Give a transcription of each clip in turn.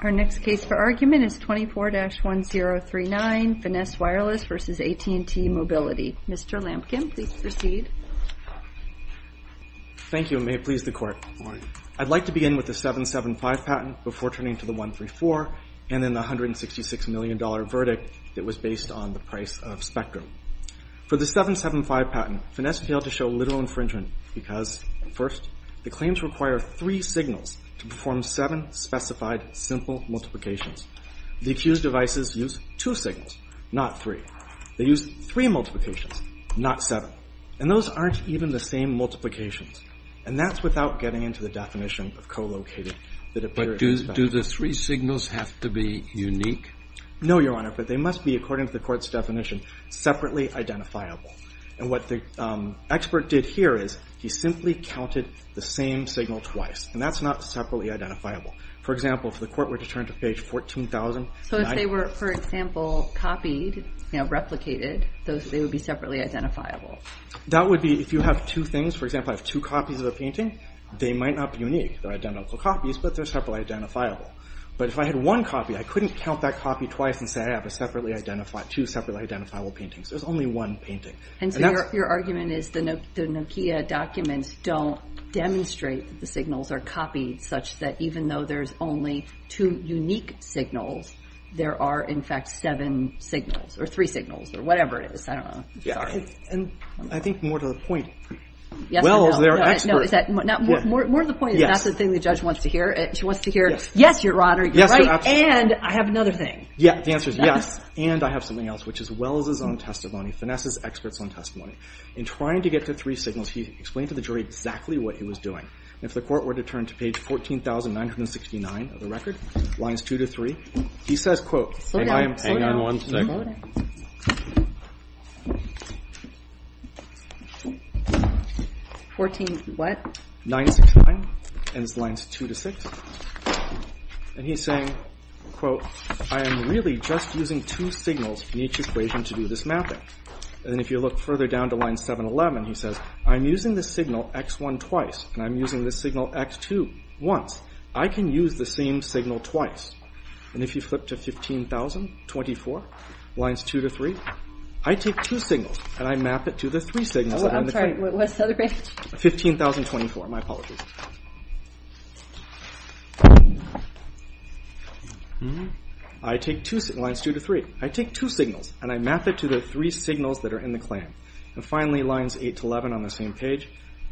Our next case for argument is 24-1039, Finesse Wireless versus AT&T Mobility. Mr. Lampkin, please proceed. Thank you, and may it please the Court. Morning. I'd like to begin with the 775 patent before turning to the 134, and then the $166 million verdict that was based on the price of Spectrum. For the 775 patent, Finesse failed to show literal infringement because, first, the claims require three signals to perform seven specified simple multiplications. The accused devices use two signals, not three. They use three multiplications, not seven. And those aren't even the same multiplications. And that's without getting into the definition of co-located that appears in the specs. But do the three signals have to be unique? No, Your Honor, but they must be, according to the Court's definition, separately identifiable. And what the expert did here is he simply counted the same signal twice, and that's not separately identifiable. For example, if the Court were to turn to page 14,000... So if they were, for example, copied, you know, replicated, they would be separately identifiable. That would be if you have two things. For example, I have two copies of a painting. They might not be unique. They're identical copies, but they're separately identifiable. But if I had one copy, I couldn't count that copy twice and say I have two separately identifiable paintings. There's only one painting. And so your argument is the Nokia documents don't demonstrate that the signals are copied such that even though there's only two unique signals, there are, in fact, seven signals, or three signals, or whatever it is. I don't know. Sorry. And I think more to the point, Welles, their expert... More to the point, it's not the thing the judge wants to hear. She wants to hear, yes, Your Honor, you're right, and I have another thing. The answer is yes, and I have something else, which is Welles' own testimony, Finesse's expert's own testimony. In trying to get to three signals, he explained to the jury exactly what he was doing. And if the Court were to turn to page 14,969 of the record, lines 2 to 3, he says, quote, and I am... Hang on one second. 14 what? 969, and it's lines 2 to 6. And he's saying, quote, I am really just using two signals in each equation to do this mapping. And if you look further down to line 711, he says, I'm using the signal X1 twice, and I'm using the signal X2 once. I can use the same signal twice. And if you flip to 15,024, lines 2 to 3, I take two signals, and I map it to the three signals. Oh, I'm sorry. What's the other page? 15,024. My apologies. I take two signals, lines 2 to 3. I take two signals, and I map it to the three signals that are in the claim. And finally, lines 8 to 11 on the same page.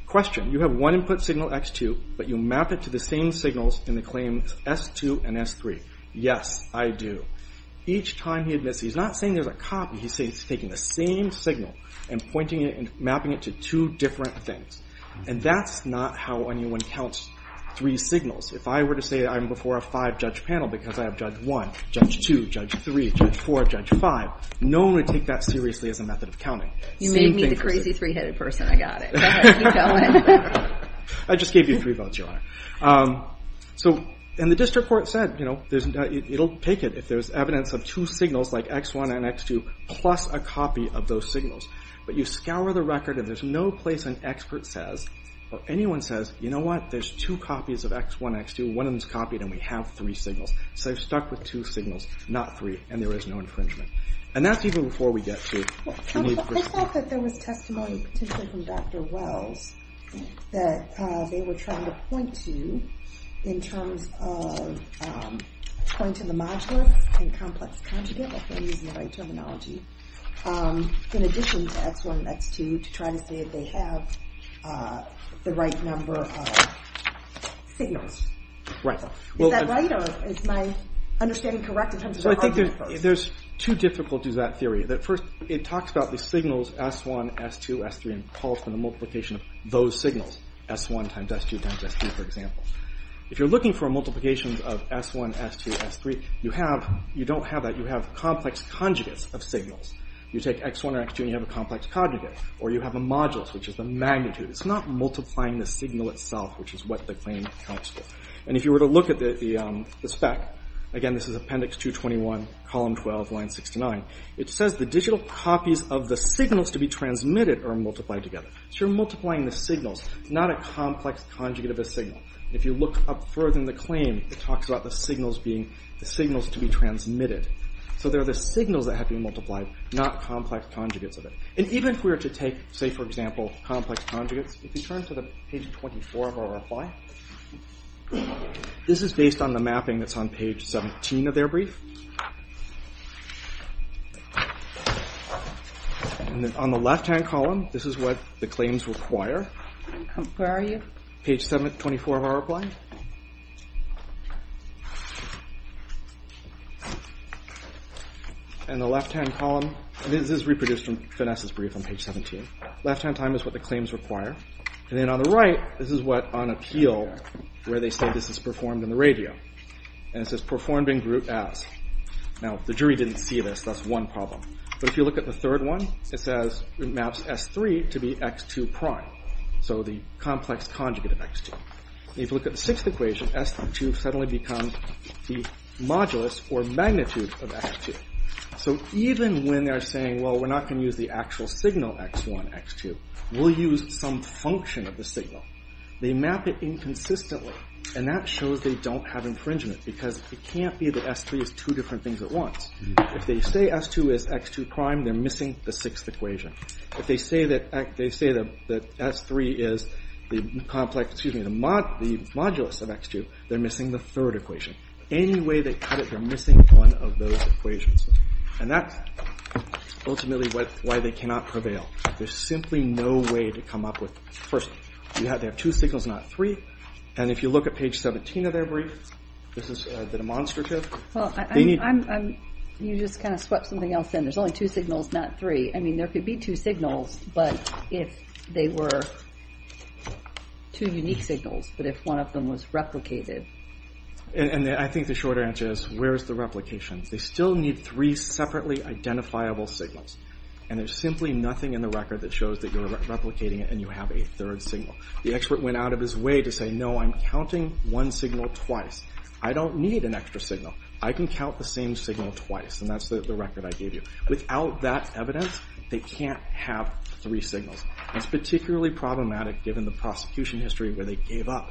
Question. You have one input signal, X2, but you map it to the same signals in the claims S2 and S3. Yes, I do. Each time he admits, he's not saying there's a copy. He's saying he's taking the same signal and pointing it and mapping it to two different things. And that's not how anyone counts three signals. If I were to say I'm before a five-judge panel because I have judge 1, judge 2, judge 3, judge 4, judge 5, no one would take that seriously as a method of counting. You made me the crazy three-headed person. I got it. Go ahead. Keep going. I just gave you three votes, Your Honor. So, and the district court said, you know, it'll take it if there's evidence of two signals, like X1 and X2, plus a copy of those signals. But you scour the record, and there's no place an expert says, or anyone says, you know what, there's two copies of X1, X2, one of them's copied, and we have three signals. So they're stuck with two signals, not three, and there is no infringement. And that's even before we get to... I thought that there was testimony, potentially from Dr. Wells, that they were trying to point to in terms of pointing to the modulus and complex conjugate, if I'm using the right terminology, in addition to X1 and X2, to try to say that they have the right number of signals. Is that right, or is my understanding correct in terms of the argument first? There's two difficulties with that theory. First, it talks about the signals S1, S2, S3, and pulse, and the multiplication of those signals, S1 times S2 times S3, for example. If you're looking for multiplications of S1, S2, S3, you don't have that. You have complex conjugates of signals. You take X1 or X2, and you have a complex conjugate. Or you have a modulus, which is the magnitude. It's not multiplying the signal itself, which is what the claim accounts for. And if you were to look at the spec, again, this is Appendix 221, Column 12, Line 69, it says the digital copies of the signals to be transmitted are multiplied together. So you're multiplying the signals. It's not a complex conjugate of a signal. If you look up further in the claim, it talks about the signals to be transmitted. So they're the signals that have been multiplied, not complex conjugates of it. And even if we were to take, say, for example, complex conjugates, if you turn to the page 24 of our reply, this is based on the mapping that's on page 17 of their brief. And then on the left-hand column, this is what the claims require. Where are you? Page 24 of our reply. And the left-hand column, this is reproduced from Vanessa's brief on page 17. Left-hand time is what the claims require. And then on the right, this is what, on appeal, where they say this is performed in the radio. And it says performed in group S. Now, the jury didn't see this. That's one problem. But if you look at the third one, it says it maps S3 to be X2 prime. So the complex conjugate of X2. And if you look at the sixth equation, S2 suddenly becomes the modulus or magnitude of X2. So even when they're saying, well, we're not going to use the actual signal X1, X2, we'll use some function of the signal, they map it inconsistently. And that shows they don't have infringement, because it can't be that S3 is two different things at once. If they say S2 is X2 prime, they're missing the sixth equation. If they say that S3 is the complex, excuse me, the modulus of X2, they're missing the third equation. Any way they cut it, they're missing one of those equations. And that's ultimately why they cannot prevail. There's simply no way to come up with. First, you have to have two signals, not three. And if you look at page 17 of their brief, this is the demonstrative. You just kind of swept something else in. There's only two signals, not three. I mean, there could be two signals, but if they were two unique signals, but if one of them was replicated. And I think the short answer is, where's the replication? They still need three separately identifiable signals. And there's simply nothing in the record that shows that you're replicating it and you have a third signal. The expert went out of his way to say, no, I'm counting one signal twice. I don't need an extra signal. I can count the same signal twice, and that's the record I gave you. Without that evidence, they can't have three signals. It's particularly problematic given the prosecution history where they gave up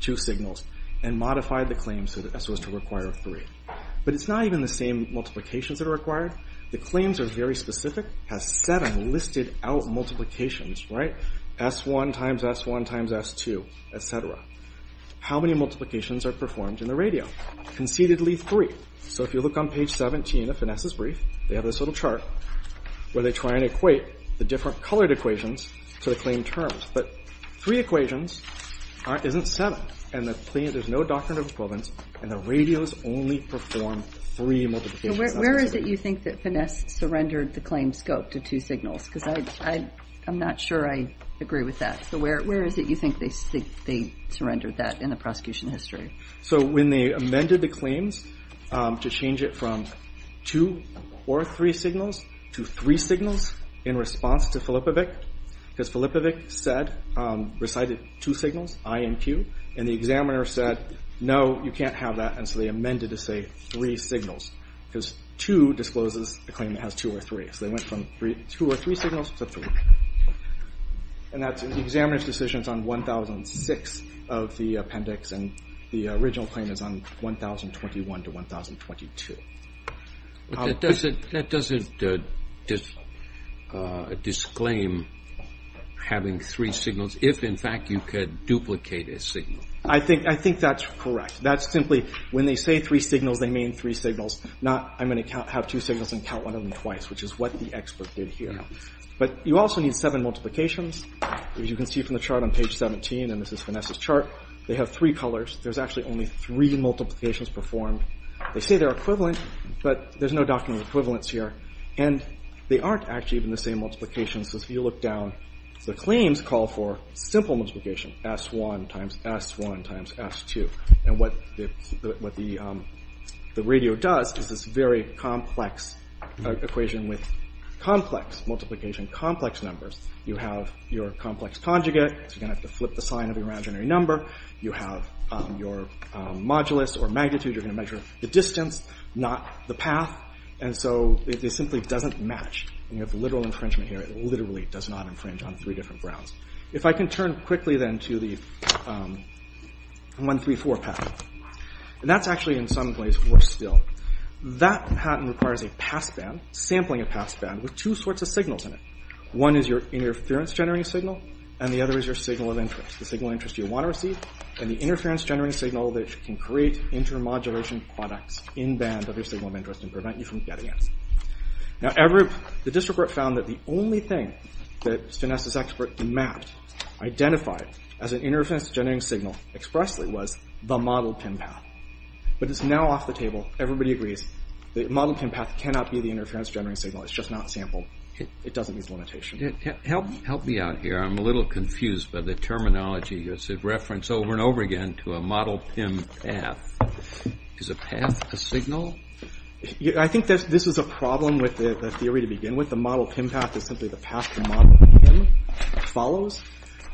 two signals and modified the claim so as to require three. But it's not even the same multiplications that are required. The claims are very specific. It has seven listed out multiplications, right? S1 times S1 times S2, et cetera. How many multiplications are performed in the radio? Conceitedly three. So if you look on page 17 of Finesse's brief, they have this little chart where they try and equate the different colored equations to the claim terms. But three equations isn't seven, and there's no doctrinal equivalence, and the radios only perform three multiplications. Where is it you think that Finesse surrendered the claim scope to two signals? Because I'm not sure I agree with that. So where is it you think they surrendered that in the prosecution history? So when they amended the claims to change it from two or three signals to three signals in response to Filipovic, because Filipovic said recited two signals, I and Q, and the examiner said, no, you can't have that, and so they amended to say three signals because two discloses a claim that has two or three. So they went from two or three signals to three. And the examiner's decision is on 1006 of the appendix, and the original claim is on 1021 to 1022. But that doesn't disclaim having three signals if, in fact, you could duplicate a signal. I think that's correct. That's simply when they say three signals, they mean three signals, not I'm going to have two signals and count one of them twice, which is what the expert did here. But you also need seven multiplications. As you can see from the chart on page 17, and this is Vanessa's chart, they have three colors. There's actually only three multiplications performed. They say they're equivalent, but there's no document equivalence here, and they aren't actually even the same multiplications. So if you look down, the claims call for simple multiplication, S1 times S1 times S2. And what the radio does is this very complex equation with complex multiplication, complex numbers. You have your complex conjugate, so you're going to have to flip the sign of your imaginary number. You have your modulus or magnitude. You're going to measure the distance, not the path. And so it simply doesn't match. And you have literal infringement here. It literally does not infringe on three different grounds. If I can turn quickly, then, to the 134 patent. And that's actually, in some ways, worse still. That patent requires a passband, sampling a passband, with two sorts of signals in it. One is your interference-generating signal, and the other is your signal of interest, the signal of interest you want to receive, and the interference-generating signal that can create intermodulation products in band of your signal of interest and prevent you from getting it. Now, the district court found that the only thing that Vanessa's expert mapped, identified as an interference-generating signal expressly, was the model PIN path. But it's now off the table. Everybody agrees. The model PIN path cannot be the interference-generating signal. It's just not sampled. It doesn't meet the limitation. Help me out here. I'm a little confused by the terminology. It's a reference over and over again to a model PIN path. Is a path a signal? I think this is a problem with the theory to begin with. The model PIN path is simply the path the model PIN follows.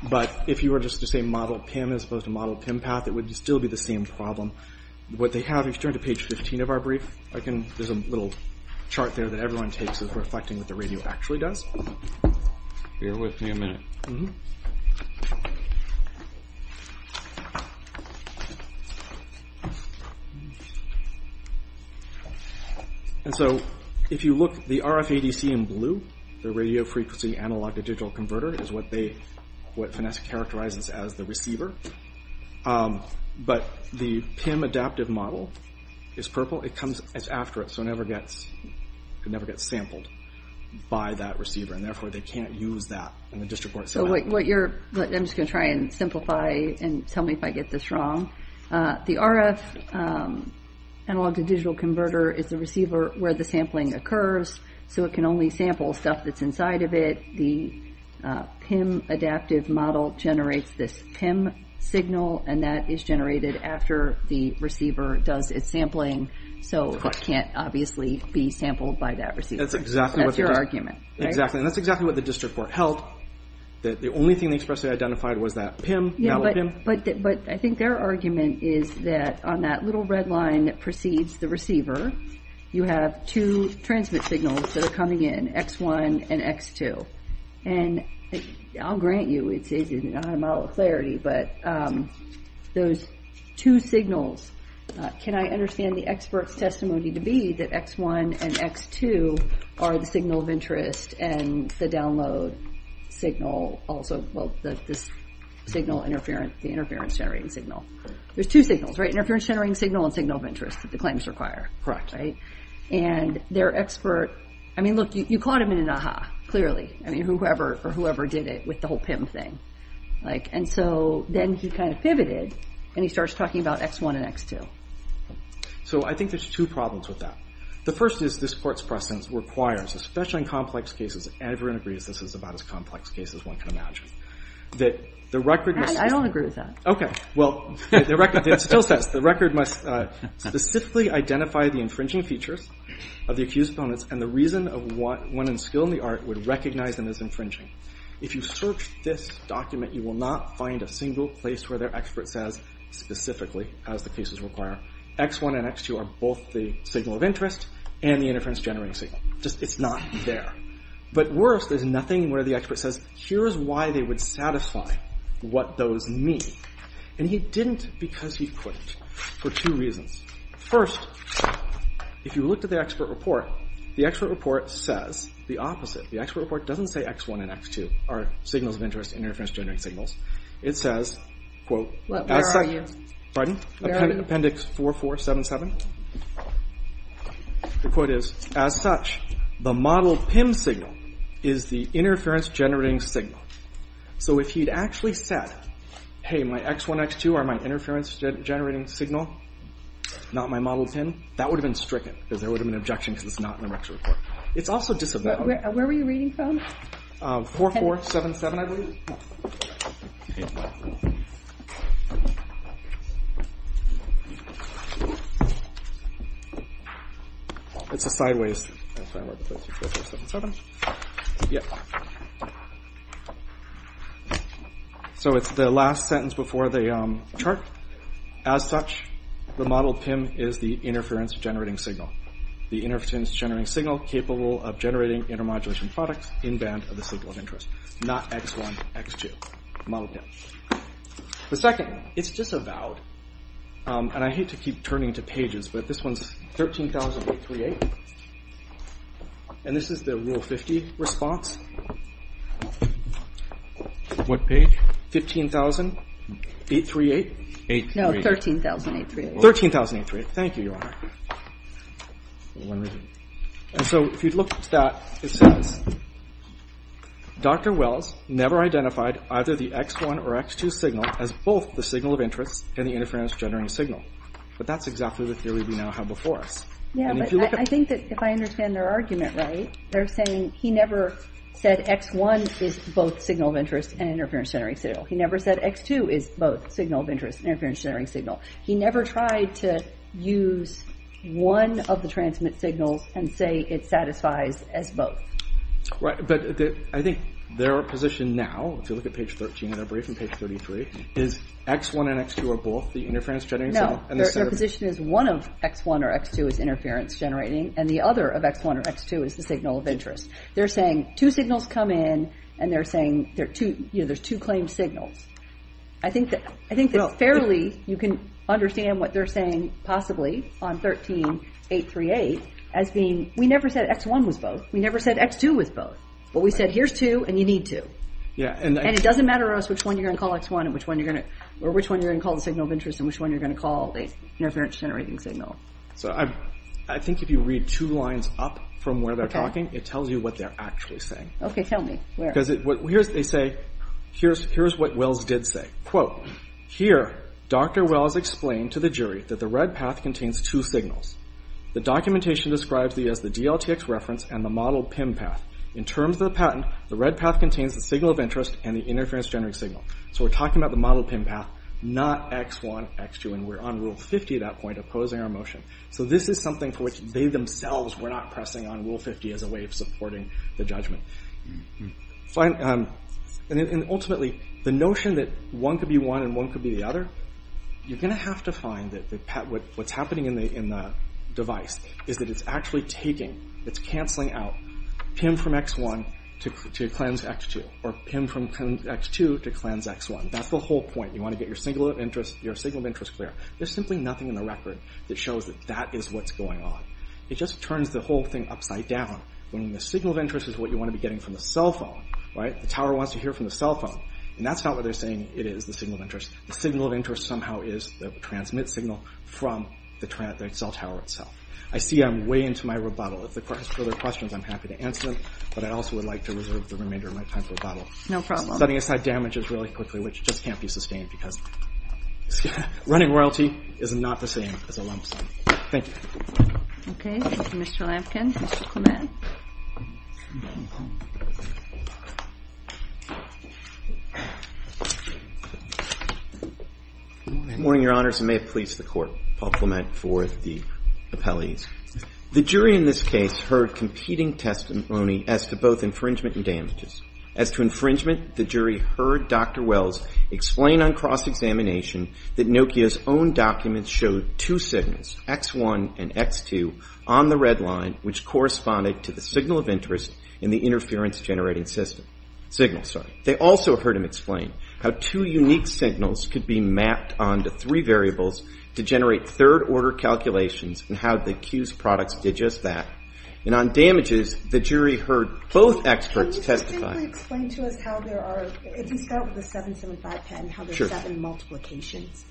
But if you were just to say model PIN as opposed to model PIN path, it would still be the same problem. What they have, if you turn to page 15 of our brief, there's a little chart there that everyone takes that's reflecting what the radio actually does. Bear with me a minute. And so if you look, the RFADC in blue, the radio frequency analog-to-digital converter, is what Finesse characterizes as the receiver. But the PIM adaptive model is purple. It's after it, so it never gets sampled by that receiver, and therefore they can't use that in the district court setting. I'm just going to try and simplify and tell me if I get this wrong. The RF analog-to-digital converter is the receiver where the sampling occurs, so it can only sample stuff that's inside of it. The PIM adaptive model generates this PIM signal, and that is generated after the receiver does its sampling, so it can't obviously be sampled by that receiver. That's exactly what the district court held. The only thing they expressly identified was that PIM. But I think their argument is that on that little red line that precedes the receiver, you have two transmit signals that are coming in, X1 and X2. And I'll grant you it's not a model of clarity, but those two signals, can I understand the expert's testimony to be that X1 and X2 are the signal of interest and the download signal also, well, the interference-generating signal. There's two signals, right? And their expert, I mean, look, you caught him in an ah-ha, clearly. I mean, whoever did it with the whole PIM thing. And so then he kind of pivoted, and he starts talking about X1 and X2. So I think there's two problems with that. The first is this court's precedence requires, especially in complex cases, and everyone agrees this is about as complex a case as one can imagine, that the record must- I don't agree with that. Okay. Well, the record still says the record must specifically identify the infringing features of the accused opponents and the reason of when and skill in the art would recognize them as infringing. If you search this document, you will not find a single place where their expert says specifically, as the cases require, X1 and X2 are both the signal of interest and the interference-generating signal. It's not there. But worse, there's nothing where the expert says, here is why they would satisfy what those mean. And he didn't because he couldn't for two reasons. First, if you looked at the expert report, the expert report says the opposite. The expert report doesn't say X1 and X2 are signals of interest and interference-generating signals. It says, quote, as such- Where are you? Pardon? Where are you? Appendix 4477. The quote is, as such, the model PIM signal is the interference-generating signal. So if he'd actually said, hey, my X1, X2 are my interference-generating signal, not my model PIM, that would have been stricken because there would have been an objection because it's not in the record. It's also disavowed. Where were you reading from? 4477, I believe. It's a sideways- So it's the last sentence before the chart. As such, the model PIM is the interference-generating signal. The interference-generating signal capable of generating intermodulation products in band of the signal of interest, not X1, X2, model PIM. The second, it's disavowed, and I hate to keep turning to pages, but this one's 13,838, and this is the Rule 50 response. What page? 15,838. No, 13,838. 13,838. Thank you, Your Honor. And so if you look at that, it says, Dr. Wells never identified either the X1 or X2 signal as both the signal of interest and the interference-generating signal. But that's exactly the theory we now have before us. Yeah, but I think that if I understand their argument right, they're saying he never said X1 is both signal of interest and interference-generating signal. He never said X2 is both signal of interest and interference-generating signal. He never tried to use one of the transmit signals and say it satisfies as both. Right, but I think their position now, if you look at page 13 of their brief in page 33, is X1 and X2 are both the interference-generating signal. No, their position is one of X1 or X2 is interference-generating, and the other of X1 or X2 is the signal of interest. They're saying two signals come in, and they're saying there's two claimed signals. I think that fairly you can understand what they're saying possibly on 13.838 as being we never said X1 was both. We never said X2 was both. But we said here's two, and you need two. And it doesn't matter to us which one you're going to call X1 or which one you're going to call the signal of interest and which one you're going to call the interference-generating signal. So I think if you read two lines up from where they're talking, it tells you what they're actually saying. Okay, tell me. Where? Here's what Wells did say. Here, Dr. Wells explained to the jury that the red path contains two signals. The documentation describes these as the DLTX reference and the model PIM path. In terms of the patent, the red path contains the signal of interest and the interference-generating signal. So we're talking about the model PIM path, not X1, X2, and we're on Rule 50 at that point opposing our motion. So this is something for which they themselves were not pressing on Rule 50 as a way of supporting the judgment. And ultimately, the notion that one could be one and one could be the other, you're going to have to find that what's happening in the device is that it's actually taking, it's canceling out PIM from X1 to cleanse X2 or PIM from X2 to cleanse X1. That's the whole point. You want to get your signal of interest clear. There's simply nothing in the record that shows that that is what's going on. It just turns the whole thing upside down when the signal of interest is what you want to be getting from the cell phone. The tower wants to hear from the cell phone, and that's not what they're saying it is, the signal of interest. The signal of interest somehow is the transmit signal from the cell tower itself. I see I'm way into my rebuttal. If the court has further questions, I'm happy to answer them, but I also would like to reserve the remainder of my time for rebuttal. Setting aside damages really quickly, which just can't be sustained because running royalty is not the same as a lump sum. Thank you. Okay, Mr. Lampkin, Mr. Clement. Good morning, Your Honors. I may have pleased the court. Paul Clement for the appellees. The jury in this case heard competing testimony as to both infringement and damages. As to infringement, the jury heard Dr. Wells explain on cross-examination that Nokia's own documents showed two signals, X1 and X2, on the red line, which corresponded to the signal of interest in the interference-generating system. Signal, sorry. They also heard him explain how two unique signals could be mapped onto three variables to generate third-order calculations and how the Q's products did just that. And on damages, the jury heard both experts testify. Can you simply explain to us how there are, if you start with the 775 patent, how there are seven multiplications?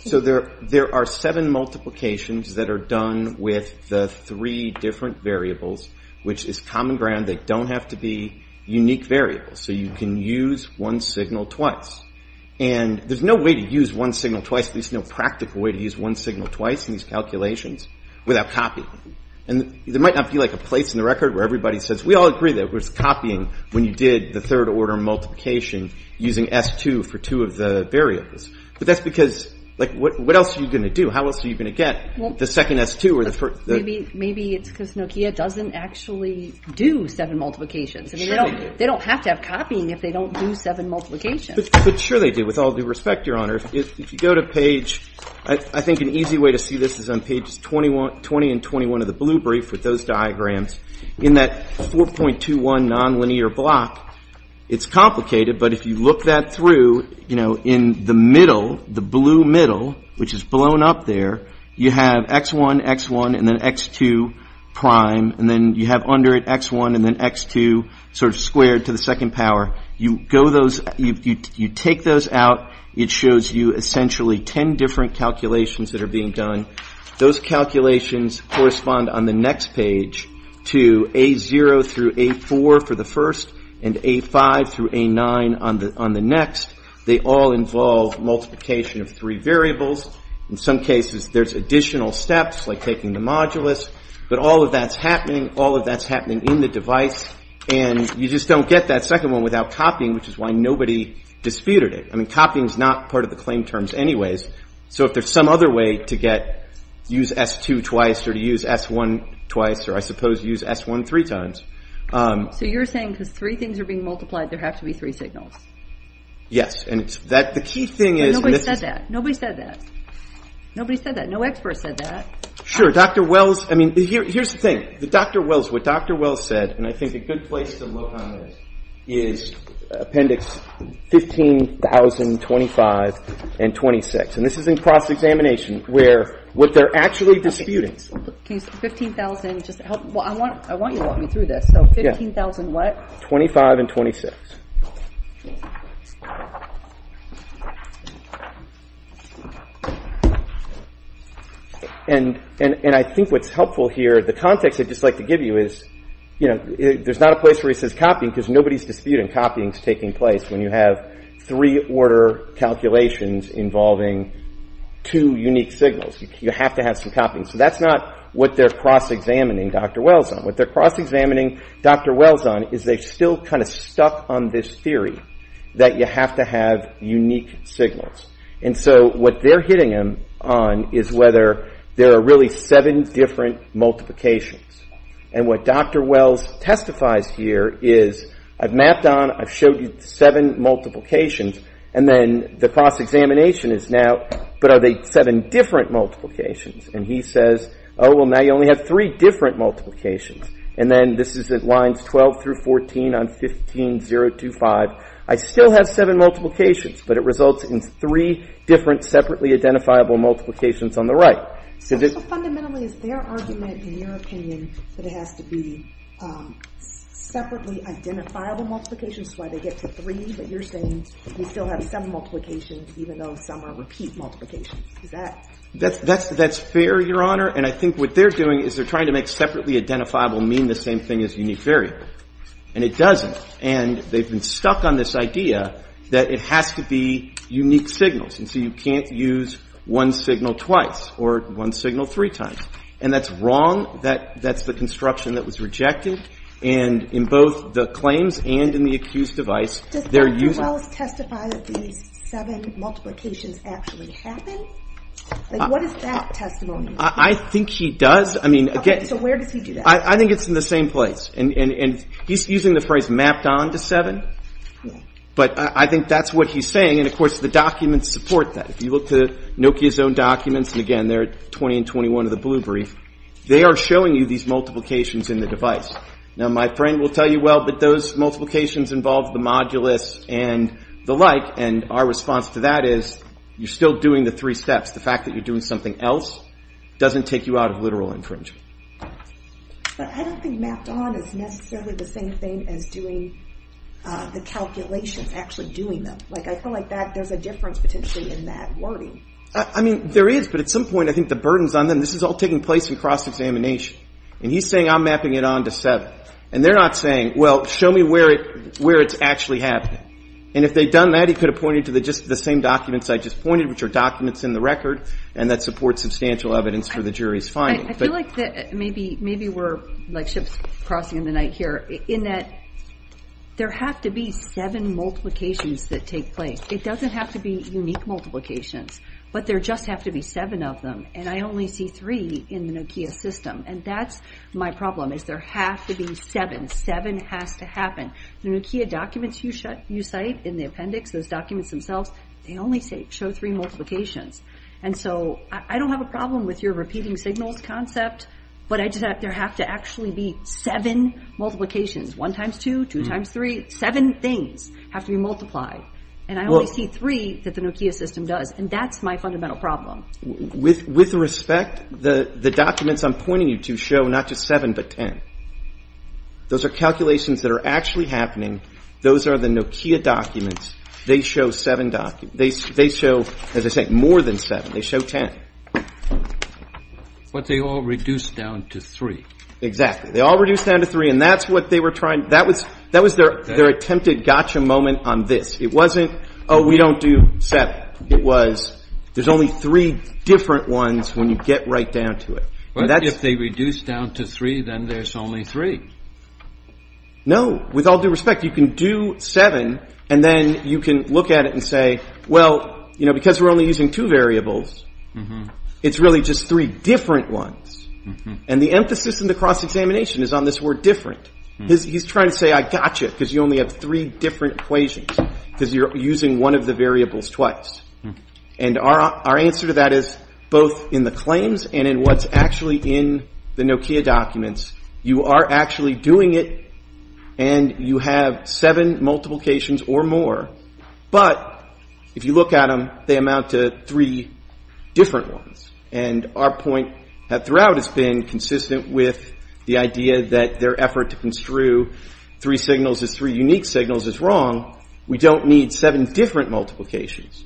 So there are seven multiplications that are done with the three different variables, which is common ground. They don't have to be unique variables. So you can use one signal twice. And there's no way to use one signal twice, at least no practical way to use one signal twice in these calculations without copying. And there might not be, like, a place in the record where everybody says, we all agree that it was copying when you did the third-order multiplication using S2 for two of the variables. But that's because, like, what else are you going to do? How else are you going to get the second S2 or the first? Maybe it's because Nokia doesn't actually do seven multiplications. I mean, they don't have to have copying if they don't do seven multiplications. But sure they do, with all due respect, Your Honor. If you go to page, I think an easy way to see this is on pages 20 and 21 of the blue brief with those diagrams. In that 4.21 nonlinear block, it's complicated, but if you look that through, you know, in the middle, the blue middle, which is blown up there, you have X1, X1, and then X2 prime. And then you have under it X1 and then X2 sort of squared to the second power. You go those, you take those out. It shows you essentially ten different calculations that are being done. Those calculations correspond on the next page to A0 through A4 for the first and A5 through A9 on the next. They all involve multiplication of three variables. In some cases, there's additional steps like taking the modulus. But all of that's happening. All of that's happening in the device. And you just don't get that second one without copying, which is why nobody disputed it. I mean, copying is not part of the claim terms anyways. So if there's some other way to get, use S2 twice or to use S1 twice or I suppose use S1 three times. So you're saying because three things are being multiplied, there have to be three signals. Yes. And the key thing is... Nobody said that. Nobody said that. Nobody said that. No expert said that. Sure. Dr. Wells, I mean, here's the thing. Dr. Wells, what Dr. Wells said, and I think a good place to look on this, is Appendix 15,025 and 26. And this is in cross-examination where what they're actually disputing. Can you use 15,000 just to help? Well, I want you to walk me through this. So 15,000 what? 25 and 26. And I think what's helpful here, the context I'd just like to give you is there's not a place where it says copying because nobody's disputing copying is taking place when you have three order calculations involving two unique signals. You have to have some copying. So that's not what they're cross-examining Dr. Wells on. What they're cross-examining Dr. Wells on is they're still kind of stuck on this theory that you have to have unique signals. And so what they're hitting him on is whether there are really seven different multiplications. And what Dr. Wells testifies here is, I've mapped on, I've showed you seven multiplications, and then the cross-examination is now, but are they seven different multiplications? And he says, oh, well, now you only have three different multiplications. And then this is at lines 12 through 14 on 15.025. I still have seven multiplications, but it results in three different separately identifiable multiplications on the right. So fundamentally it's their argument, in your opinion, that it has to be separately identifiable multiplications, that's why they get to three, but you're saying we still have seven multiplications even though some are repeat multiplications. Is that? That's fair, Your Honor. And I think what they're doing is they're trying to make separately identifiable mean the same thing as unique variable. And it doesn't. And they've been stuck on this idea that it has to be unique signals. And so you can't use one signal twice or one signal three times. And that's wrong. That's the construction that was rejected. And in both the claims and in the accused device, they're using. Does Wallace testify that these seven multiplications actually happen? What is that testimony? I think he does. So where does he do that? I think it's in the same place. And he's using the phrase mapped on to seven. But I think that's what he's saying. And, of course, the documents support that. If you look to Nokia's own documents, and again they're at 20 and 21 of the blue brief, they are showing you these multiplications in the device. Now my friend will tell you, well, those multiplications involve the modulus and the like. And our response to that is you're still doing the three steps. The fact that you're doing something else doesn't take you out of literal infringement. But I don't think mapped on is necessarily the same thing as doing the calculations, actually doing them. Like I feel like there's a difference potentially in that wording. I mean, there is. But at some point I think the burden's on them. This is all taking place in cross-examination. And he's saying I'm mapping it on to seven. And they're not saying, well, show me where it's actually happening. And if they'd done that, he could have pointed to just the same documents I just pointed, which are documents in the record and that support substantial evidence for the jury's finding. I feel like maybe we're like ships crossing in the night here, in that there have to be seven multiplications that take place. It doesn't have to be unique multiplications, but there just have to be seven of them. And I only see three in the Nokia system. And that's my problem, is there have to be seven. Seven has to happen. The Nokia documents you cite in the appendix, those documents themselves, they only show three multiplications. And so I don't have a problem with your repeating signals concept, but I just have to have to actually be seven multiplications. One times two, two times three, seven things have to be multiplied. And I only see three that the Nokia system does. And that's my fundamental problem. With respect, the documents I'm pointing you to show not just seven but ten. Those are calculations that are actually happening. Those are the Nokia documents. They show seven documents. They show, as I say, more than seven. They show ten. But they all reduce down to three. Exactly. They all reduce down to three, and that's what they were trying to do. That was their attempted gotcha moment on this. It wasn't, oh, we don't do seven. There's only three different ones when you get right down to it. But if they reduce down to three, then there's only three. No. With all due respect, you can do seven, and then you can look at it and say, well, because we're only using two variables, it's really just three different ones. And the emphasis in the cross-examination is on this word different. He's trying to say I gotcha because you only have three different equations because you're using one of the variables twice. And our answer to that is both in the claims and in what's actually in the Nokia documents. You are actually doing it, and you have seven multiplications or more. But if you look at them, they amount to three different ones. And our point throughout has been consistent with the idea that their effort to construe three signals as three unique signals is wrong. We don't need seven different multiplications.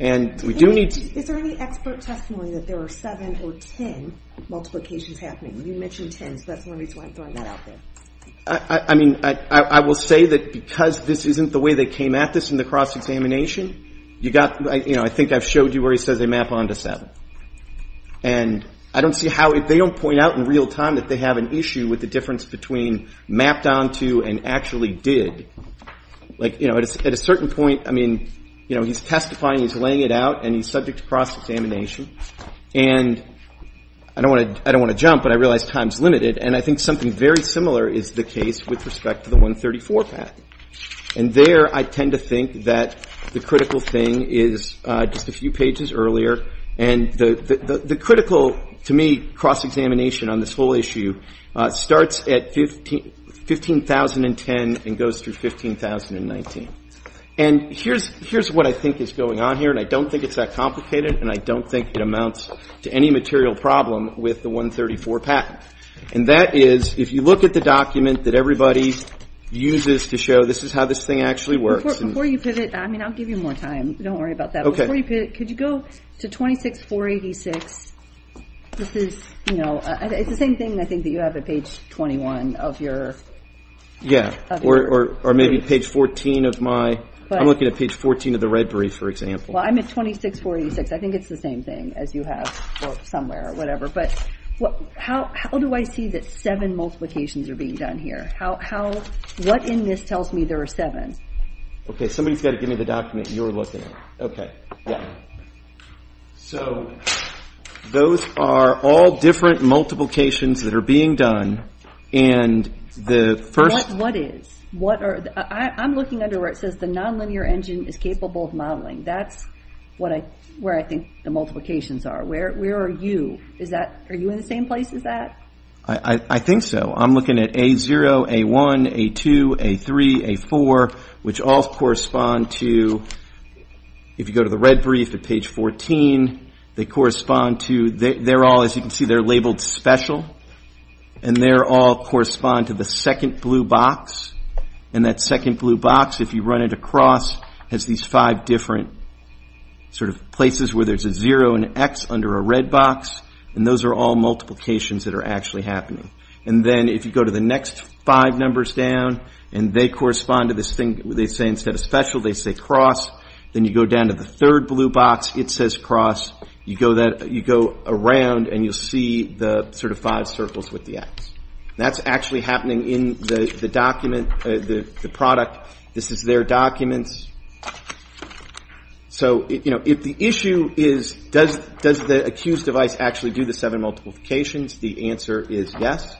And we do need to- Is there any expert testimony that there are seven or ten multiplications happening? You mentioned ten, so that's one reason why I'm throwing that out there. I mean, I will say that because this isn't the way they came at this in the cross-examination, you got, you know, I think I've showed you where he says they map onto seven. And I don't see how if they don't point out in real time that they have an issue with the difference between mapped onto and actually did. Like, you know, at a certain point, I mean, you know, he's testifying, he's laying it out, and he's subject to cross-examination. And I don't want to jump, but I realize time's limited. And I think something very similar is the case with respect to the 134 patent. And there I tend to think that the critical thing is just a few pages earlier. And the critical, to me, cross-examination on this whole issue starts at 15,010 and goes through 15,019. And here's what I think is going on here, and I don't think it's that complicated, and I don't think it amounts to any material problem with the 134 patent. And that is, if you look at the document that everybody uses to show this is how this thing actually works- Before you pivot, I mean, I'll give you more time. Don't worry about that. Okay. Before you pivot, could you go to 26486? This is, you know, it's the same thing, I think, that you have at page 21 of your- Yeah, or maybe page 14 of my- I'm looking at page 14 of the red brief, for example. Well, I'm at 26486. I think it's the same thing as you have somewhere or whatever. But how do I see that seven multiplications are being done here? What in this tells me there are seven? Okay, somebody's got to give me the document you're looking at. Okay, yeah. So those are all different multiplications that are being done, and the first- What is? I'm looking under where it says the nonlinear engine is capable of modeling. That's where I think the multiplications are. Where are you? Are you in the same place as that? I think so. I'm looking at A0, A1, A2, A3, A4, which all correspond to- If you go to the red brief at page 14, they correspond to- They're all, as you can see, they're labeled special. And they all correspond to the second blue box. And that second blue box, if you run it across, has these five different sort of places where there's a zero and an X under a red box. And those are all multiplications that are actually happening. And then if you go to the next five numbers down, and they correspond to this thing, they say instead of special, they say cross. Then you go down to the third blue box, it says cross. You go around, and you'll see the sort of five circles with the X. That's actually happening in the document, the product. This is their documents. So, you know, if the issue is does the accused device actually do the seven multiplications, the answer is yes.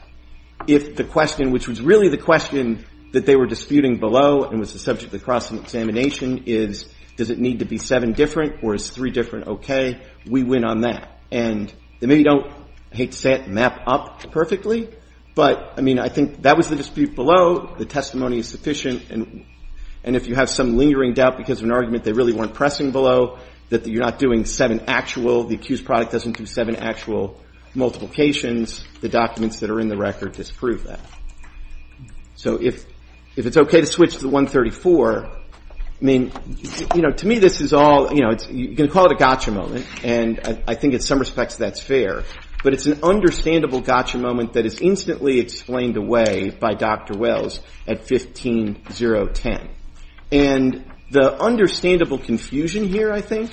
If the question, which was really the question that they were disputing below and was the subject of the cross-examination is does it need to be seven different or is three different okay, we win on that. And they maybe don't, I hate to say it, map up perfectly. But, I mean, I think that was the dispute below. The testimony is sufficient. And if you have some lingering doubt because of an argument they really weren't pressing below, that you're not doing seven actual, the accused product doesn't do seven actual multiplications, the documents that are in the record disprove that. So if it's okay to switch to the 134, I mean, you know, to me this is all, you know, you can call it a gotcha moment, and I think in some respects that's fair. But it's an understandable gotcha moment that is instantly explained away by Dr. Wells at 15-0-10. And the understandable confusion here, I think,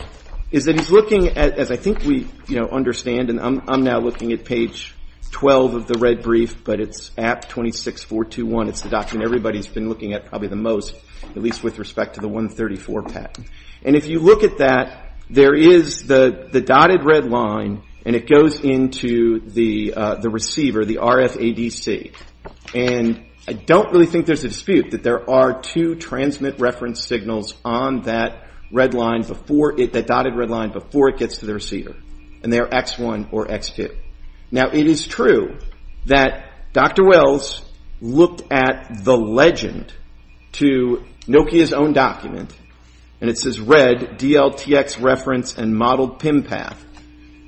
is that he's looking at, as I think we, you know, understand, and I'm now looking at page 12 of the red brief, but it's at 26-4-2-1. It's the document everybody's been looking at probably the most, at least with respect to the 134 patent. And if you look at that, there is the dotted red line, and it goes into the receiver, the RFADC. And I don't really think there's a dispute that there are two transmit reference signals on that red line, that dotted red line, before it gets to the receiver, and they are X1 or X2. Now, it is true that Dr. Wells looked at the legend to Nokia's own document, and it says, red, DLTX reference and modeled PIM path.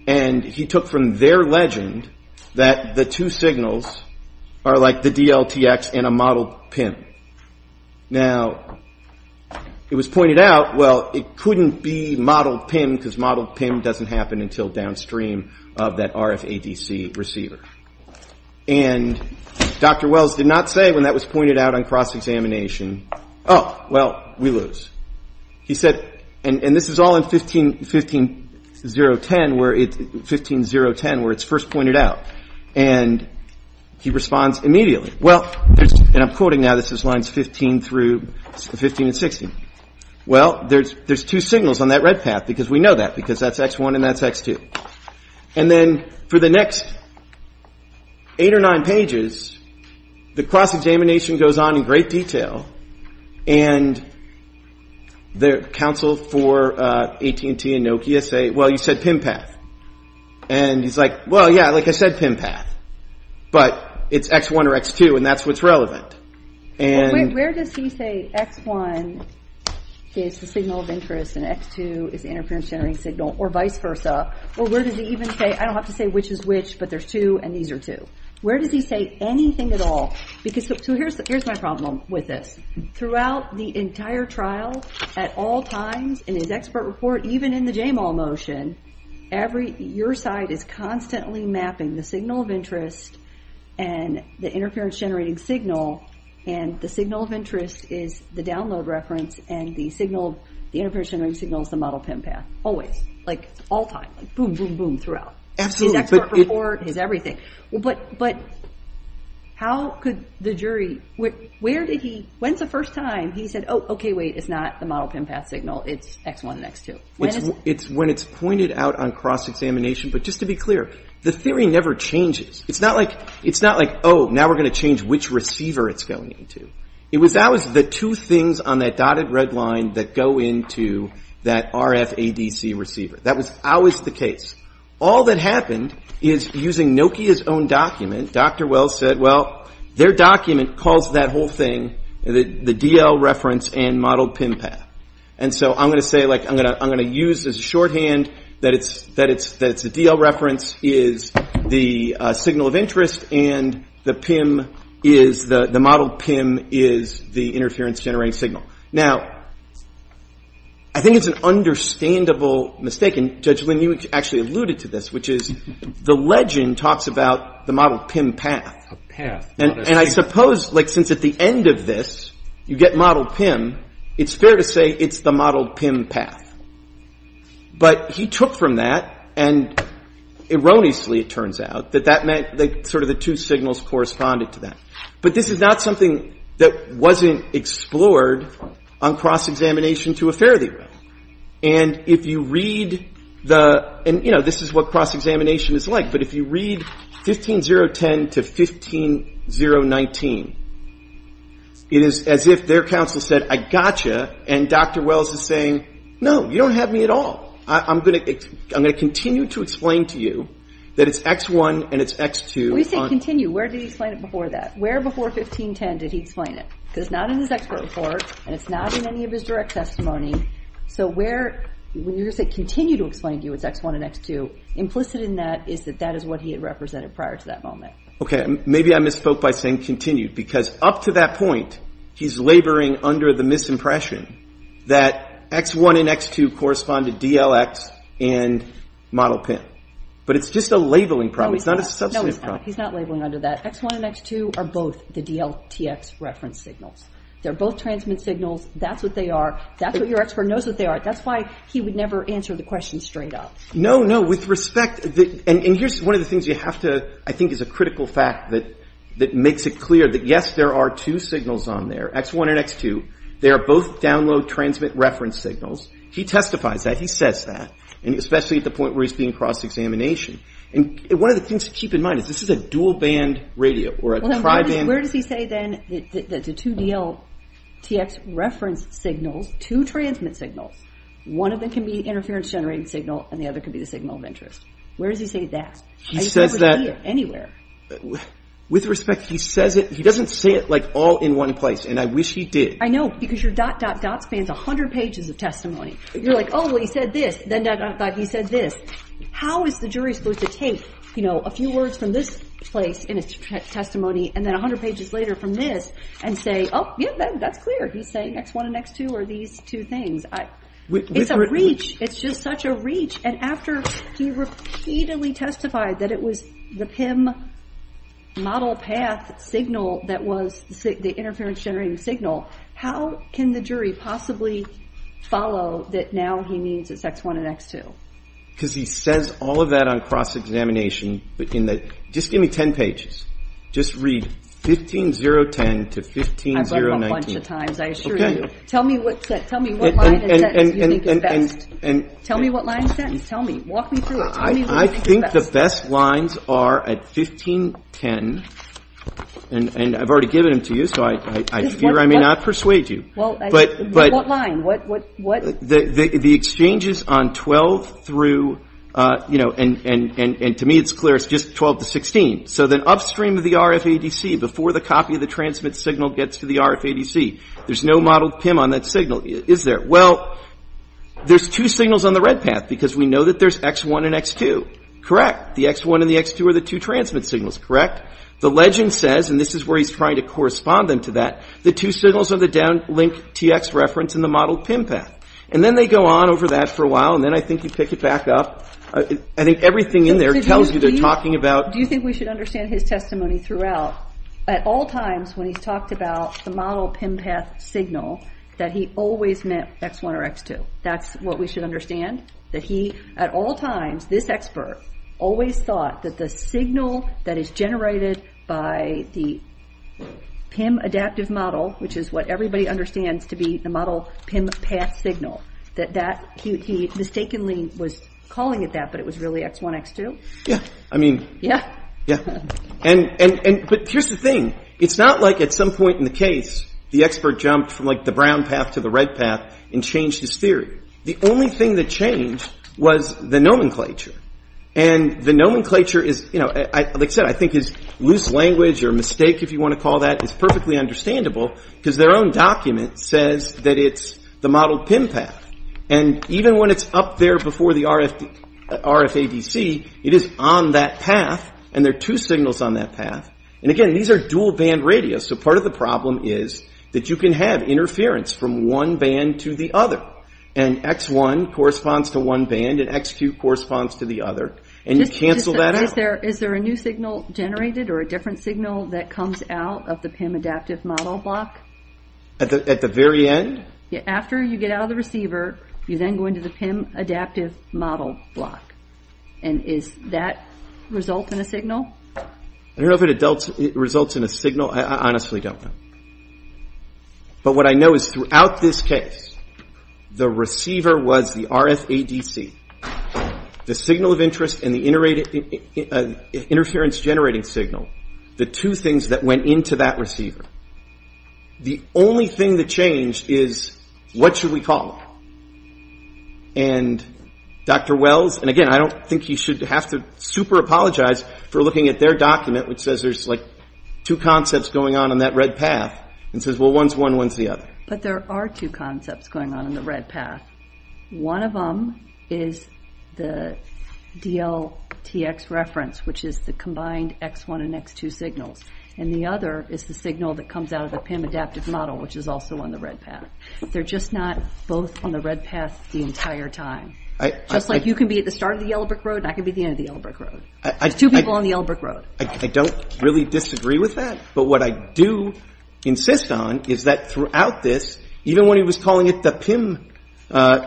And he took from their legend that the two signals are like the DLTX and a modeled PIM. Now, it was pointed out, well, it couldn't be modeled PIM because modeled PIM doesn't happen until downstream of that RFADC receiver. And Dr. Wells did not say when that was pointed out on cross-examination, oh, well, we lose. He said, and this is all in 15-0-10 where it's first pointed out. And he responds immediately, well, and I'm quoting now, this is lines 15 through 15 and 16. Well, there's two signals on that red path because we know that, because that's X1 and that's X2. And then for the next eight or nine pages, the cross-examination goes on in great detail. And the counsel for AT&T and Nokia say, well, you said PIM path. And he's like, well, yeah, like I said, PIM path, but it's X1 or X2, and that's what's relevant. Where does he say X1 is the signal of interest and X2 is interference-generating signal or vice versa? Or where does he even say, I don't have to say which is which, but there's two and these are two. Where does he say anything at all? So here's my problem with this. Throughout the entire trial, at all times, in his expert report, even in the JMOL motion, your side is constantly mapping the signal of interest and the interference-generating signal. And the signal of interest is the download reference, and the interference-generating signal is the model PIM path. Always, like all time, boom, boom, boom, throughout. His expert report, his everything. But how could the jury, where did he, when's the first time he said, oh, okay, wait, it's not the model PIM path signal, it's X1 and X2? When it's pointed out on cross-examination, but just to be clear, the theory never changes. It's not like, oh, now we're going to change which receiver it's going into. It was always the two things on that dotted red line that go into that RFADC receiver. That was always the case. All that happened is using Nokia's own document, Dr. Wells said, well, their document calls that whole thing the DL reference and model PIM path. And so I'm going to say, like, I'm going to use as a shorthand that it's the DL reference is the signal of interest and the PIM is, the model PIM is the interference generating signal. Now, I think it's an understandable mistake, and Judge Lynn, you actually alluded to this, which is the legend talks about the model PIM path. And I suppose, like, since at the end of this you get model PIM, it's fair to say it's the model PIM path. But he took from that and erroneously, it turns out, that that meant sort of the two signals corresponded to that. But this is not something that wasn't explored on cross-examination to a fair degree. And if you read the, and, you know, this is what cross-examination is like, but if you read 15010 to 15019, it is as if their counsel said, I got you, and Dr. Wells is saying, no, you don't have me at all. I'm going to continue to explain to you that it's X1 and it's X2. We say continue. Where did he explain it before that? Where before 1510 did he explain it? Because it's not in his expert report and it's not in any of his direct testimony. So where, when you say continue to explain to you it's X1 and X2, implicit in that is that that is what he had represented prior to that moment. Okay, maybe I misspoke by saying continue. Because up to that point, he's laboring under the misimpression that X1 and X2 correspond to DLX and model PIN. But it's just a labeling problem. It's not a substantive problem. No, he's not labeling under that. X1 and X2 are both the DLTX reference signals. They're both transmit signals. That's what they are. That's what your expert knows what they are. That's why he would never answer the question straight up. No, no. With respect, and here's one of the things you have to, I think is a critical fact that makes it clear that, yes, there are two signals on there, X1 and X2. They are both download transmit reference signals. He testifies that. He says that, especially at the point where he's being cross-examination. And one of the things to keep in mind is this is a dual-band radio or a tri-band. Where does he say then that the two DLTX reference signals, two transmit signals, one of them can be interference-generating signal, and the other can be the signal of interest? Where does he say that? He says that. I just can't see it anywhere. With respect, he says it. He doesn't say it, like, all in one place, and I wish he did. I know, because your dot, dot, dot spans 100 pages of testimony. You're like, oh, well, he said this, then dot, dot, dot, he said this. How is the jury supposed to take, you know, a few words from this place in his testimony, and then 100 pages later from this, and say, oh, yeah, that's clear. He's saying X1 and X2 are these two things. It's a breach. It's just such a breach. And after he repeatedly testified that it was the PIM model path signal that was the interference-generating signal, how can the jury possibly follow that now he means it's X1 and X2? Because he says all of that on cross-examination. Just give me 10 pages. Just read 15010 to 15019. I've looked a bunch of times, I assure you. Okay. Tell me what line and sentence you think is best. Tell me what line and sentence. Tell me. Walk me through it. Tell me what you think is best. I think the best lines are at 1510, and I've already given them to you, so I fear I may not persuade you. Well, what line? What, what, what? The exchanges on 12 through, you know, and to me it's clear it's just 12 to 16. So then upstream of the RFADC, before the copy of the transmit signal gets to the RFADC, there's no modeled PIM on that signal, is there? Well, there's two signals on the red path because we know that there's X1 and X2. Correct. The X1 and the X2 are the two transmit signals. Correct. The legend says, and this is where he's trying to correspond them to that, the two signals are the downlink TX reference and the modeled PIM path. And then they go on over that for a while, and then I think you pick it back up. I think everything in there tells you they're talking about. Do you think we should understand his testimony throughout? Well, at all times when he's talked about the modeled PIM path signal, that he always meant X1 or X2. That's what we should understand, that he at all times, this expert, always thought that the signal that is generated by the PIM adaptive model, which is what everybody understands to be the modeled PIM path signal, that he mistakenly was calling it that, but it was really X1, X2? Yeah, I mean. Yeah? Yeah. But here's the thing. It's not like at some point in the case the expert jumped from like the brown path to the red path and changed his theory. The only thing that changed was the nomenclature. And the nomenclature is, you know, like I said, I think his loose language or mistake, if you want to call that, is perfectly understandable because their own document says that it's the modeled PIM path. And even when it's up there before the RFADC, it is on that path, and there are two signals on that path. And again, these are dual band radios. So part of the problem is that you can have interference from one band to the other, and X1 corresponds to one band and X2 corresponds to the other, and you cancel that out. Is there a new signal generated or a different signal that comes out of the PIM adaptive model block? At the very end? After you get out of the receiver, you then go into the PIM adaptive model block. And does that result in a signal? I don't know if it results in a signal. I honestly don't know. But what I know is throughout this case, the receiver was the RFADC. The signal of interest and the interference generating signal, the two things that went into that receiver. The only thing that changed is what should we call it. And Dr. Wells, and again, I don't think you should have to super apologize for looking at their document, which says there's like two concepts going on on that red path, and says, well, one's one, one's the other. But there are two concepts going on in the red path. One of them is the DLTX reference, which is the combined X1 and X2 signals. And the other is the signal that comes out of the PIM adaptive model, which is also on the red path. They're just not both on the red path the entire time. Just like you can be at the start of the Yellow Brick Road and I can be at the end of the Yellow Brick Road. There's two people on the Yellow Brick Road. I don't really disagree with that. But what I do insist on is that throughout this, even when he was calling it the PIM,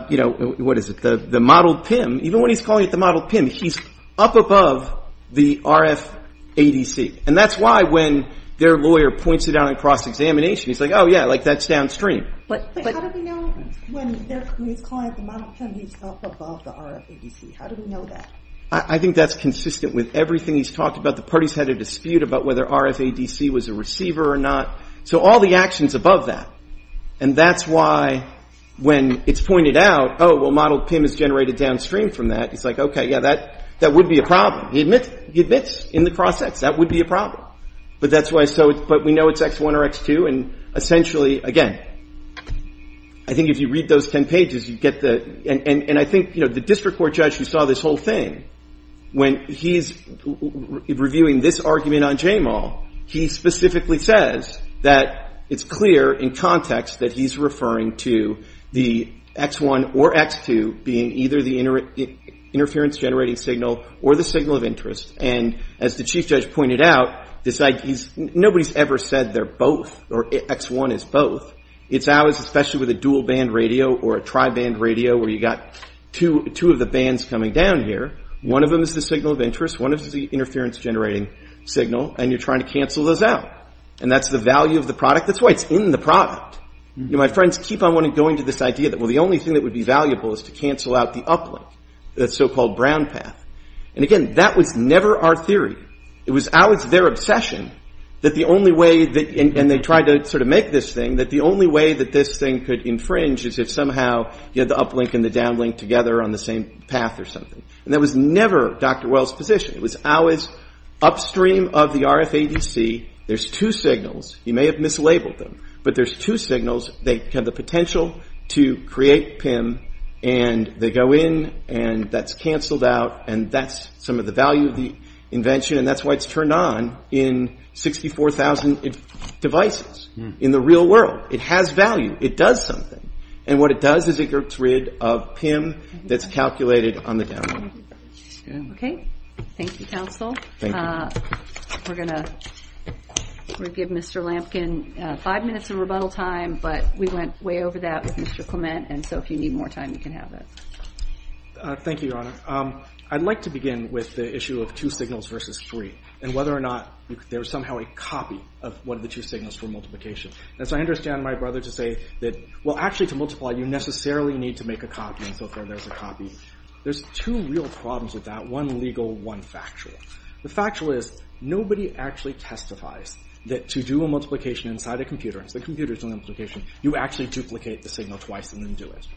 you know, what is it, the modeled PIM, even when he's calling it the modeled PIM, he's up above the RFADC. And that's why when their lawyer points it out in cross-examination, he's like, oh, yeah, that's downstream. But how do we know when he's calling it the modeled PIM he's up above the RFADC? How do we know that? I think that's consistent with everything he's talked about. The parties had a dispute about whether RFADC was a receiver or not. So all the actions above that. And that's why when it's pointed out, oh, well, modeled PIM is generated downstream from that, he's like, okay, yeah, that would be a problem. He admits in the cross-examination that would be a problem. But that's why so we know it's X1 or X2. And essentially, again, I think if you read those ten pages, you get the – and I think, you know, the district court judge who saw this whole thing, when he's reviewing this argument on JMAW, he specifically says that it's clear in context that he's referring to the X1 or X2 being either the interference generating signal or the signal of interest. And as the chief judge pointed out, nobody's ever said they're both or X1 is both. It's ours, especially with a dual-band radio or a tri-band radio where you've got two of the bands coming down here. One of them is the signal of interest. One of them is the interference generating signal. And you're trying to cancel those out. And that's the value of the product. That's why it's in the product. My friends keep on going to this idea that, well, the only thing that would be valuable is to cancel out the uplink, the so-called brown path. And, again, that was never our theory. It was always their obsession that the only way – and they tried to sort of make this thing – that the only way that this thing could infringe is if somehow you had the uplink and the downlink together on the same path or something. And that was never Dr. Wells' position. It was always upstream of the RFADC. There's two signals. He may have mislabeled them, but there's two signals. They have the potential to create PIM, and they go in, and that's canceled out, and that's some of the value of the invention, and that's why it's turned on in 64,000 devices in the real world. It has value. It does something. And what it does is it gets rid of PIM that's calculated on the downlink. Okay. Thank you, counsel. Thank you. We're going to give Mr. Lampkin five minutes of rebuttal time, but we went way over that with Mr. Clement, and so if you need more time, you can have it. Thank you, Your Honor. I'd like to begin with the issue of two signals versus three and whether or not there's somehow a copy of one of the two signals for multiplication. And so I understand my brother to say that, well, actually, to multiply, you necessarily need to make a copy, and so there's a copy. There's two real problems with that, one legal, one factual. The factual is nobody actually testifies that to do a multiplication inside a computer, and so the computer's doing the multiplication, you actually duplicate the signal twice and then do it.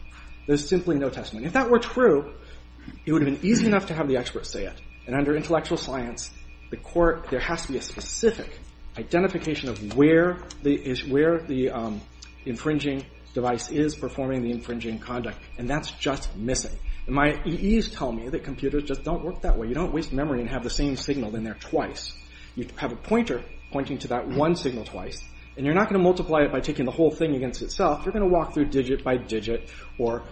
There's simply no testimony. If that were true, it would have been easy enough to have the experts say it, and under intellectual science, there has to be a specific identification of where the infringing device is performing the infringing conduct, and that's just missing. My EEs tell me that computers just don't work that way. You don't waste memory and have the same signal in there twice. You have a pointer pointing to that one signal twice, and you're not going to multiply it by taking the whole thing against itself. You're going to walk through digit by digit or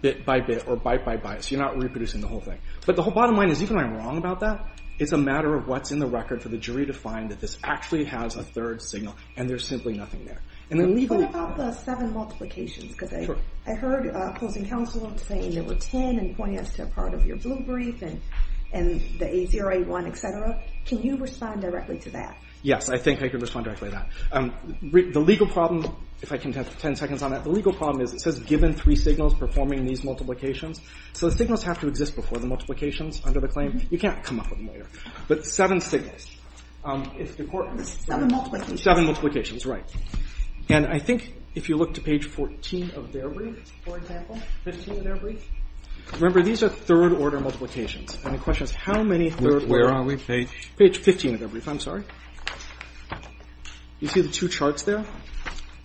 bit by bit or byte by byte, so you're not reproducing the whole thing. But the whole bottom line is, even though I'm wrong about that, it's a matter of what's in the record for the jury to find that this actually has a third signal, and there's simply nothing there. What about the seven multiplications? Because I heard closing counsel saying there were 10 and pointing us to a part of your blue brief and the 8081, et cetera. Can you respond directly to that? Yes, I think I can respond directly to that. The legal problem, if I can have 10 seconds on that, the legal problem is it says given three signals performing these multiplications. So the signals have to exist before the multiplications under the claim. You can't come up with them later. But seven signals. Seven multiplications. Seven multiplications, right. And I think if you look to page 14 of their brief, for example, 15 of their brief, remember these are third-order multiplications, and the question is how many third-order. Where are we? Page 15 of their brief. I'm sorry. You see the two charts there?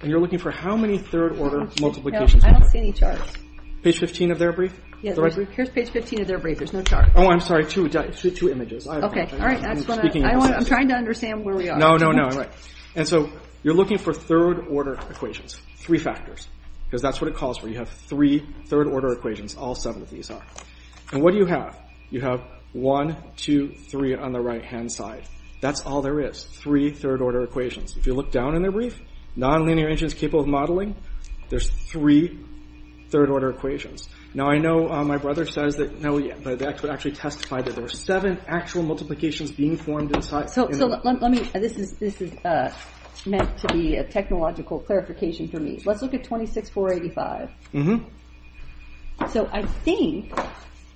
And you're looking for how many third-order multiplications. I don't see any charts. Page 15 of their brief? Yes. Here's page 15 of their brief. There's no charts. Oh, I'm sorry. Two images. Okay. All right. I'm trying to understand where we are. No, no, no. And so you're looking for third-order equations, three factors, because that's what it calls for. You have three third-order equations. All seven of these are. And what do you have? You have one, two, three on the right-hand side. That's all there is, three third-order equations. If you look down in their brief, nonlinear engines capable of modeling, there's three third-order equations. Now, I know my brother says that, no, but actually testified that there were seven actual multiplications being formed inside. So let me, this is meant to be a technological clarification for me. Let's look at 26485. Mm-hmm. So I think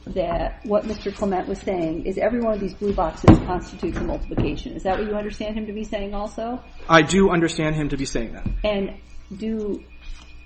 that what Mr. Clement was saying is every one of these blue boxes constitutes a multiplication. Is that what you understand him to be saying also? I do understand him to be saying that. And do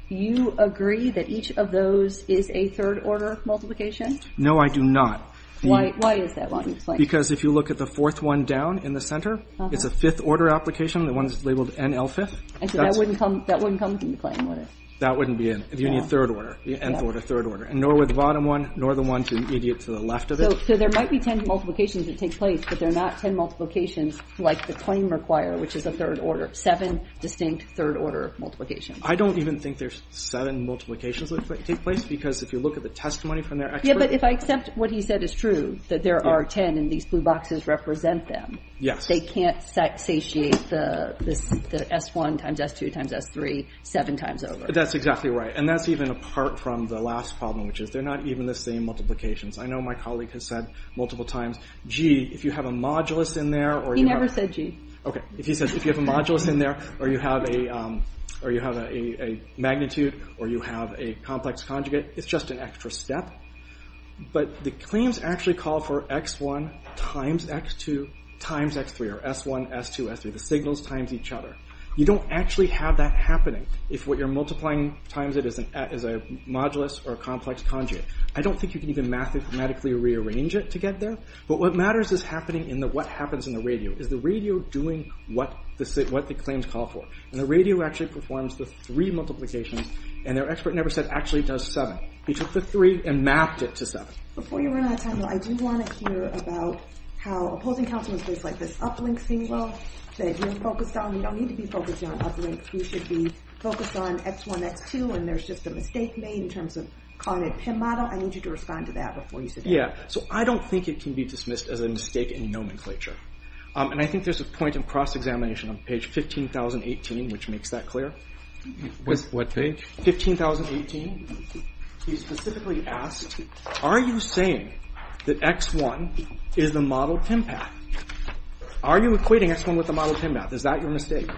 you agree that each of those is a third-order multiplication? No, I do not. Why is that what he's saying? Because if you look at the fourth one down in the center, it's a fifth-order application. The one that's labeled NL fifth. So that wouldn't come from the claim, would it? That wouldn't be it. You need third-order. Nth order, third order. And nor would the bottom one, nor the one to the left of it. So there might be ten multiplications that take place, but they're not ten multiplications like the claim require, which is a third-order, seven distinct third-order multiplications. I don't even think there's seven multiplications that take place, because if you look at the testimony from their expert. Yeah, but if I accept what he said is true, that there are ten and these blue boxes represent them. Yes. They can't satiate the S1 times S2 times S3 seven times over. That's exactly right. And that's even apart from the last problem, which is they're not even the same multiplications. I know my colleague has said multiple times, gee, if you have a modulus in there. He never said gee. Okay, if he says if you have a modulus in there, or you have a magnitude, or you have a complex conjugate, it's just an extra step. But the claims actually call for X1 times X2 times X3, or S1, S2, S3, the signals times each other. You don't actually have that happening if what you're multiplying times it is a modulus or a complex conjugate. I don't think you can even mathematically rearrange it to get there. But what matters is happening in what happens in the radio. Is the radio doing what the claims call for? And the radio actually performs the three multiplications, and their expert never said actually does seven. He took the three and mapped it to seven. Before you run out of time, though, I do want to hear about how opposing counsel in places like this Uplink thing will, that you're focused on. You don't need to be focused on Uplink. You should be focused on X1, X2, and there's just a mistake made in terms of calling it PIM model. I need you to respond to that before you sit down. Yeah, so I don't think it can be dismissed as a mistake in nomenclature. And I think there's a point of cross-examination on page 15,018, which makes that clear. What page? 15,018. He specifically asked, are you saying that X1 is the model PIM path? Are you equating X1 with the model PIM path? Is that your mistake?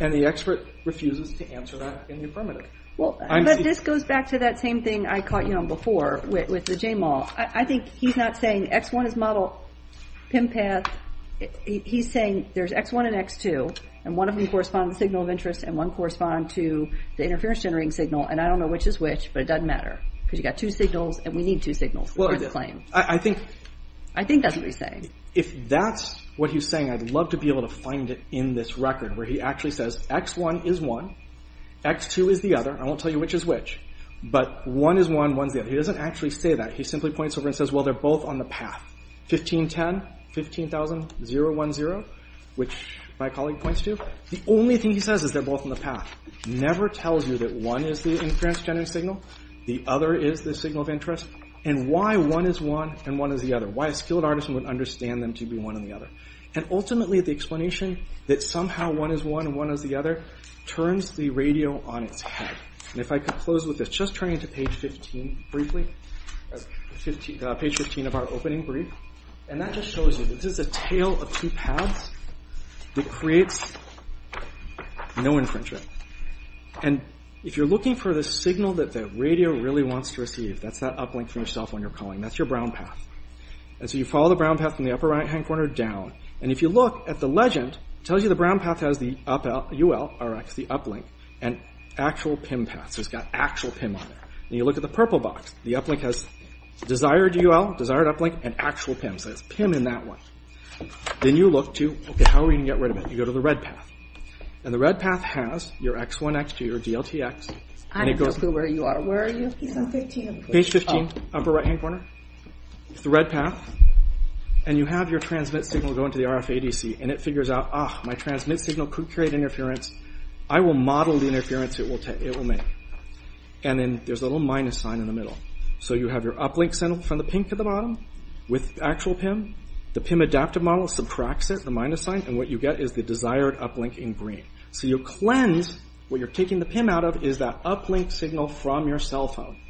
And the expert refuses to answer that in the affirmative. Well, but this goes back to that same thing I caught you on before with the JMAL. I think he's not saying X1 is model PIM path. He's saying there's X1 and X2, and one of them correspond to the signal of interest and one correspond to the interference-generating signal, and I don't know which is which, but it doesn't matter. Because you've got two signals, and we need two signals for this claim. I think that's what he's saying. If that's what he's saying, I'd love to be able to find it in this record, where he actually says X1 is one, X2 is the other. I won't tell you which is which, but one is one, one is the other. He doesn't actually say that. He simply points over and says, well, they're both on the path. 1510, 15000, 010, which my colleague points to, the only thing he says is they're both on the path. Never tells you that one is the interference-generating signal, the other is the signal of interest, and why one is one and one is the other. Why a skilled artisan would understand them to be one and the other. And ultimately the explanation that somehow one is one and one is the other turns the radio on its head. If I could close with this, just turning to page 15 briefly, page 15 of our opening brief, and that just shows you, this is a tale of two paths that creates no infringement. If you're looking for the signal that the radio really wants to receive, that's that uplink for yourself when you're calling, that's your brown path. And so you follow the brown path from the upper right-hand corner down, and if you look at the legend, it tells you the brown path has the UL, Rx, the uplink, and actual PIM paths, it's got actual PIM on there. And you look at the purple box, the uplink has desired UL, desired uplink, and actual PIM, so there's PIM in that one. Then you look to, okay, how are we going to get rid of it? You go to the red path. And the red path has your X1, X2, your DLTX, and it goes... I'm not sure where you are. Where are you? Page 15, upper right-hand corner. It's the red path. And you have your transmit signal go into the RFADC, and it figures out, ah, my transmit signal could create interference. I will model the interference it will make. And then there's a little minus sign in the middle. So you have your uplink signal from the pink at the bottom, with actual PIM. The PIM adaptive model subtracts it, the minus sign, and what you get is the desired uplink in green. So you cleanse, what you're taking the PIM out of is that uplink signal from your cell phone.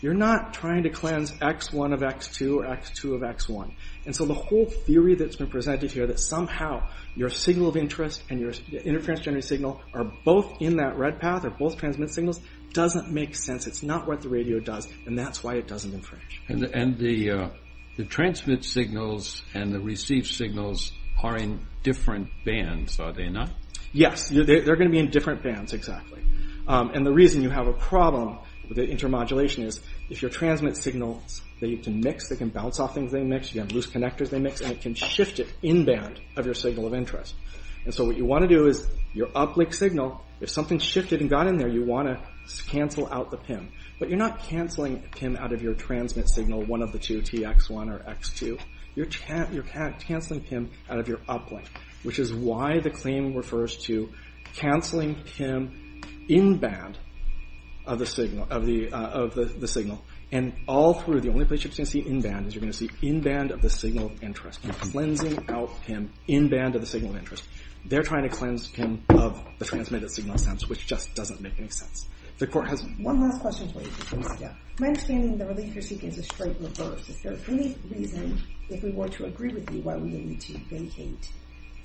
You're not trying to cleanse X1 of X2 or X2 of X1. And so the whole theory that's been presented here, that somehow your signal of interest and your interference-generated signal are both in that red path, are both transmit signals, doesn't make sense. It's not what the radio does, and that's why it doesn't infringe. And the transmit signals and the receive signals are in different bands, are they not? Yes. They're going to be in different bands, exactly. And the reason you have a problem with the intermodulation is if your transmit signals, they can mix, they can bounce off things they mix, you have loose connectors they mix, and it can shift it in band of your signal of interest. And so what you want to do is, your uplink signal, if something shifted and got in there, you want to cancel out the PIM. But you're not canceling PIM out of your transmit signal, one of the two, TX1 or X2. You're canceling PIM out of your uplink, which is why the claim refers to canceling PIM in band of the signal. And all through, the only place you're going to see in band is you're going to see in band of the signal of interest. You're cleansing out PIM in band of the signal of interest. They're trying to cleanse PIM of the transmitted signal sense, which just doesn't make any sense. The court has... One last question for you. My understanding, the relief you're seeking is a straight reverse. Is there any reason, if we were to agree with you, why we need to vacate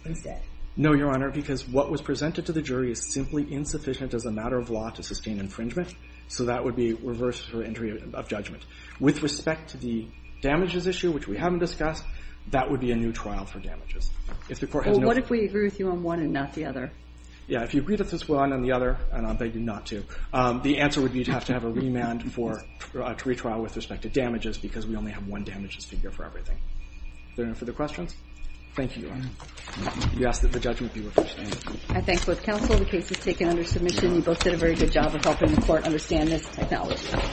instead? No, Your Honor, because what was presented to the jury is simply insufficient as a matter of law to sustain infringement. So that would be reversed for entry of judgment. With respect to the damages issue, which we haven't discussed, that would be a new trial for damages. Well, what if we agree with you on one and not the other? Yeah, if you agree with us on one and the other, and I'll beg you not to, the answer would be you'd have to have a remand for a retrial with respect to damages, because we only have one damages figure for everything. Is there any further questions? Thank you, Your Honor. You ask that the judgment be reversed. I thank both counsel. The case is taken under submission. You both did a very good job of helping the court understand this technology.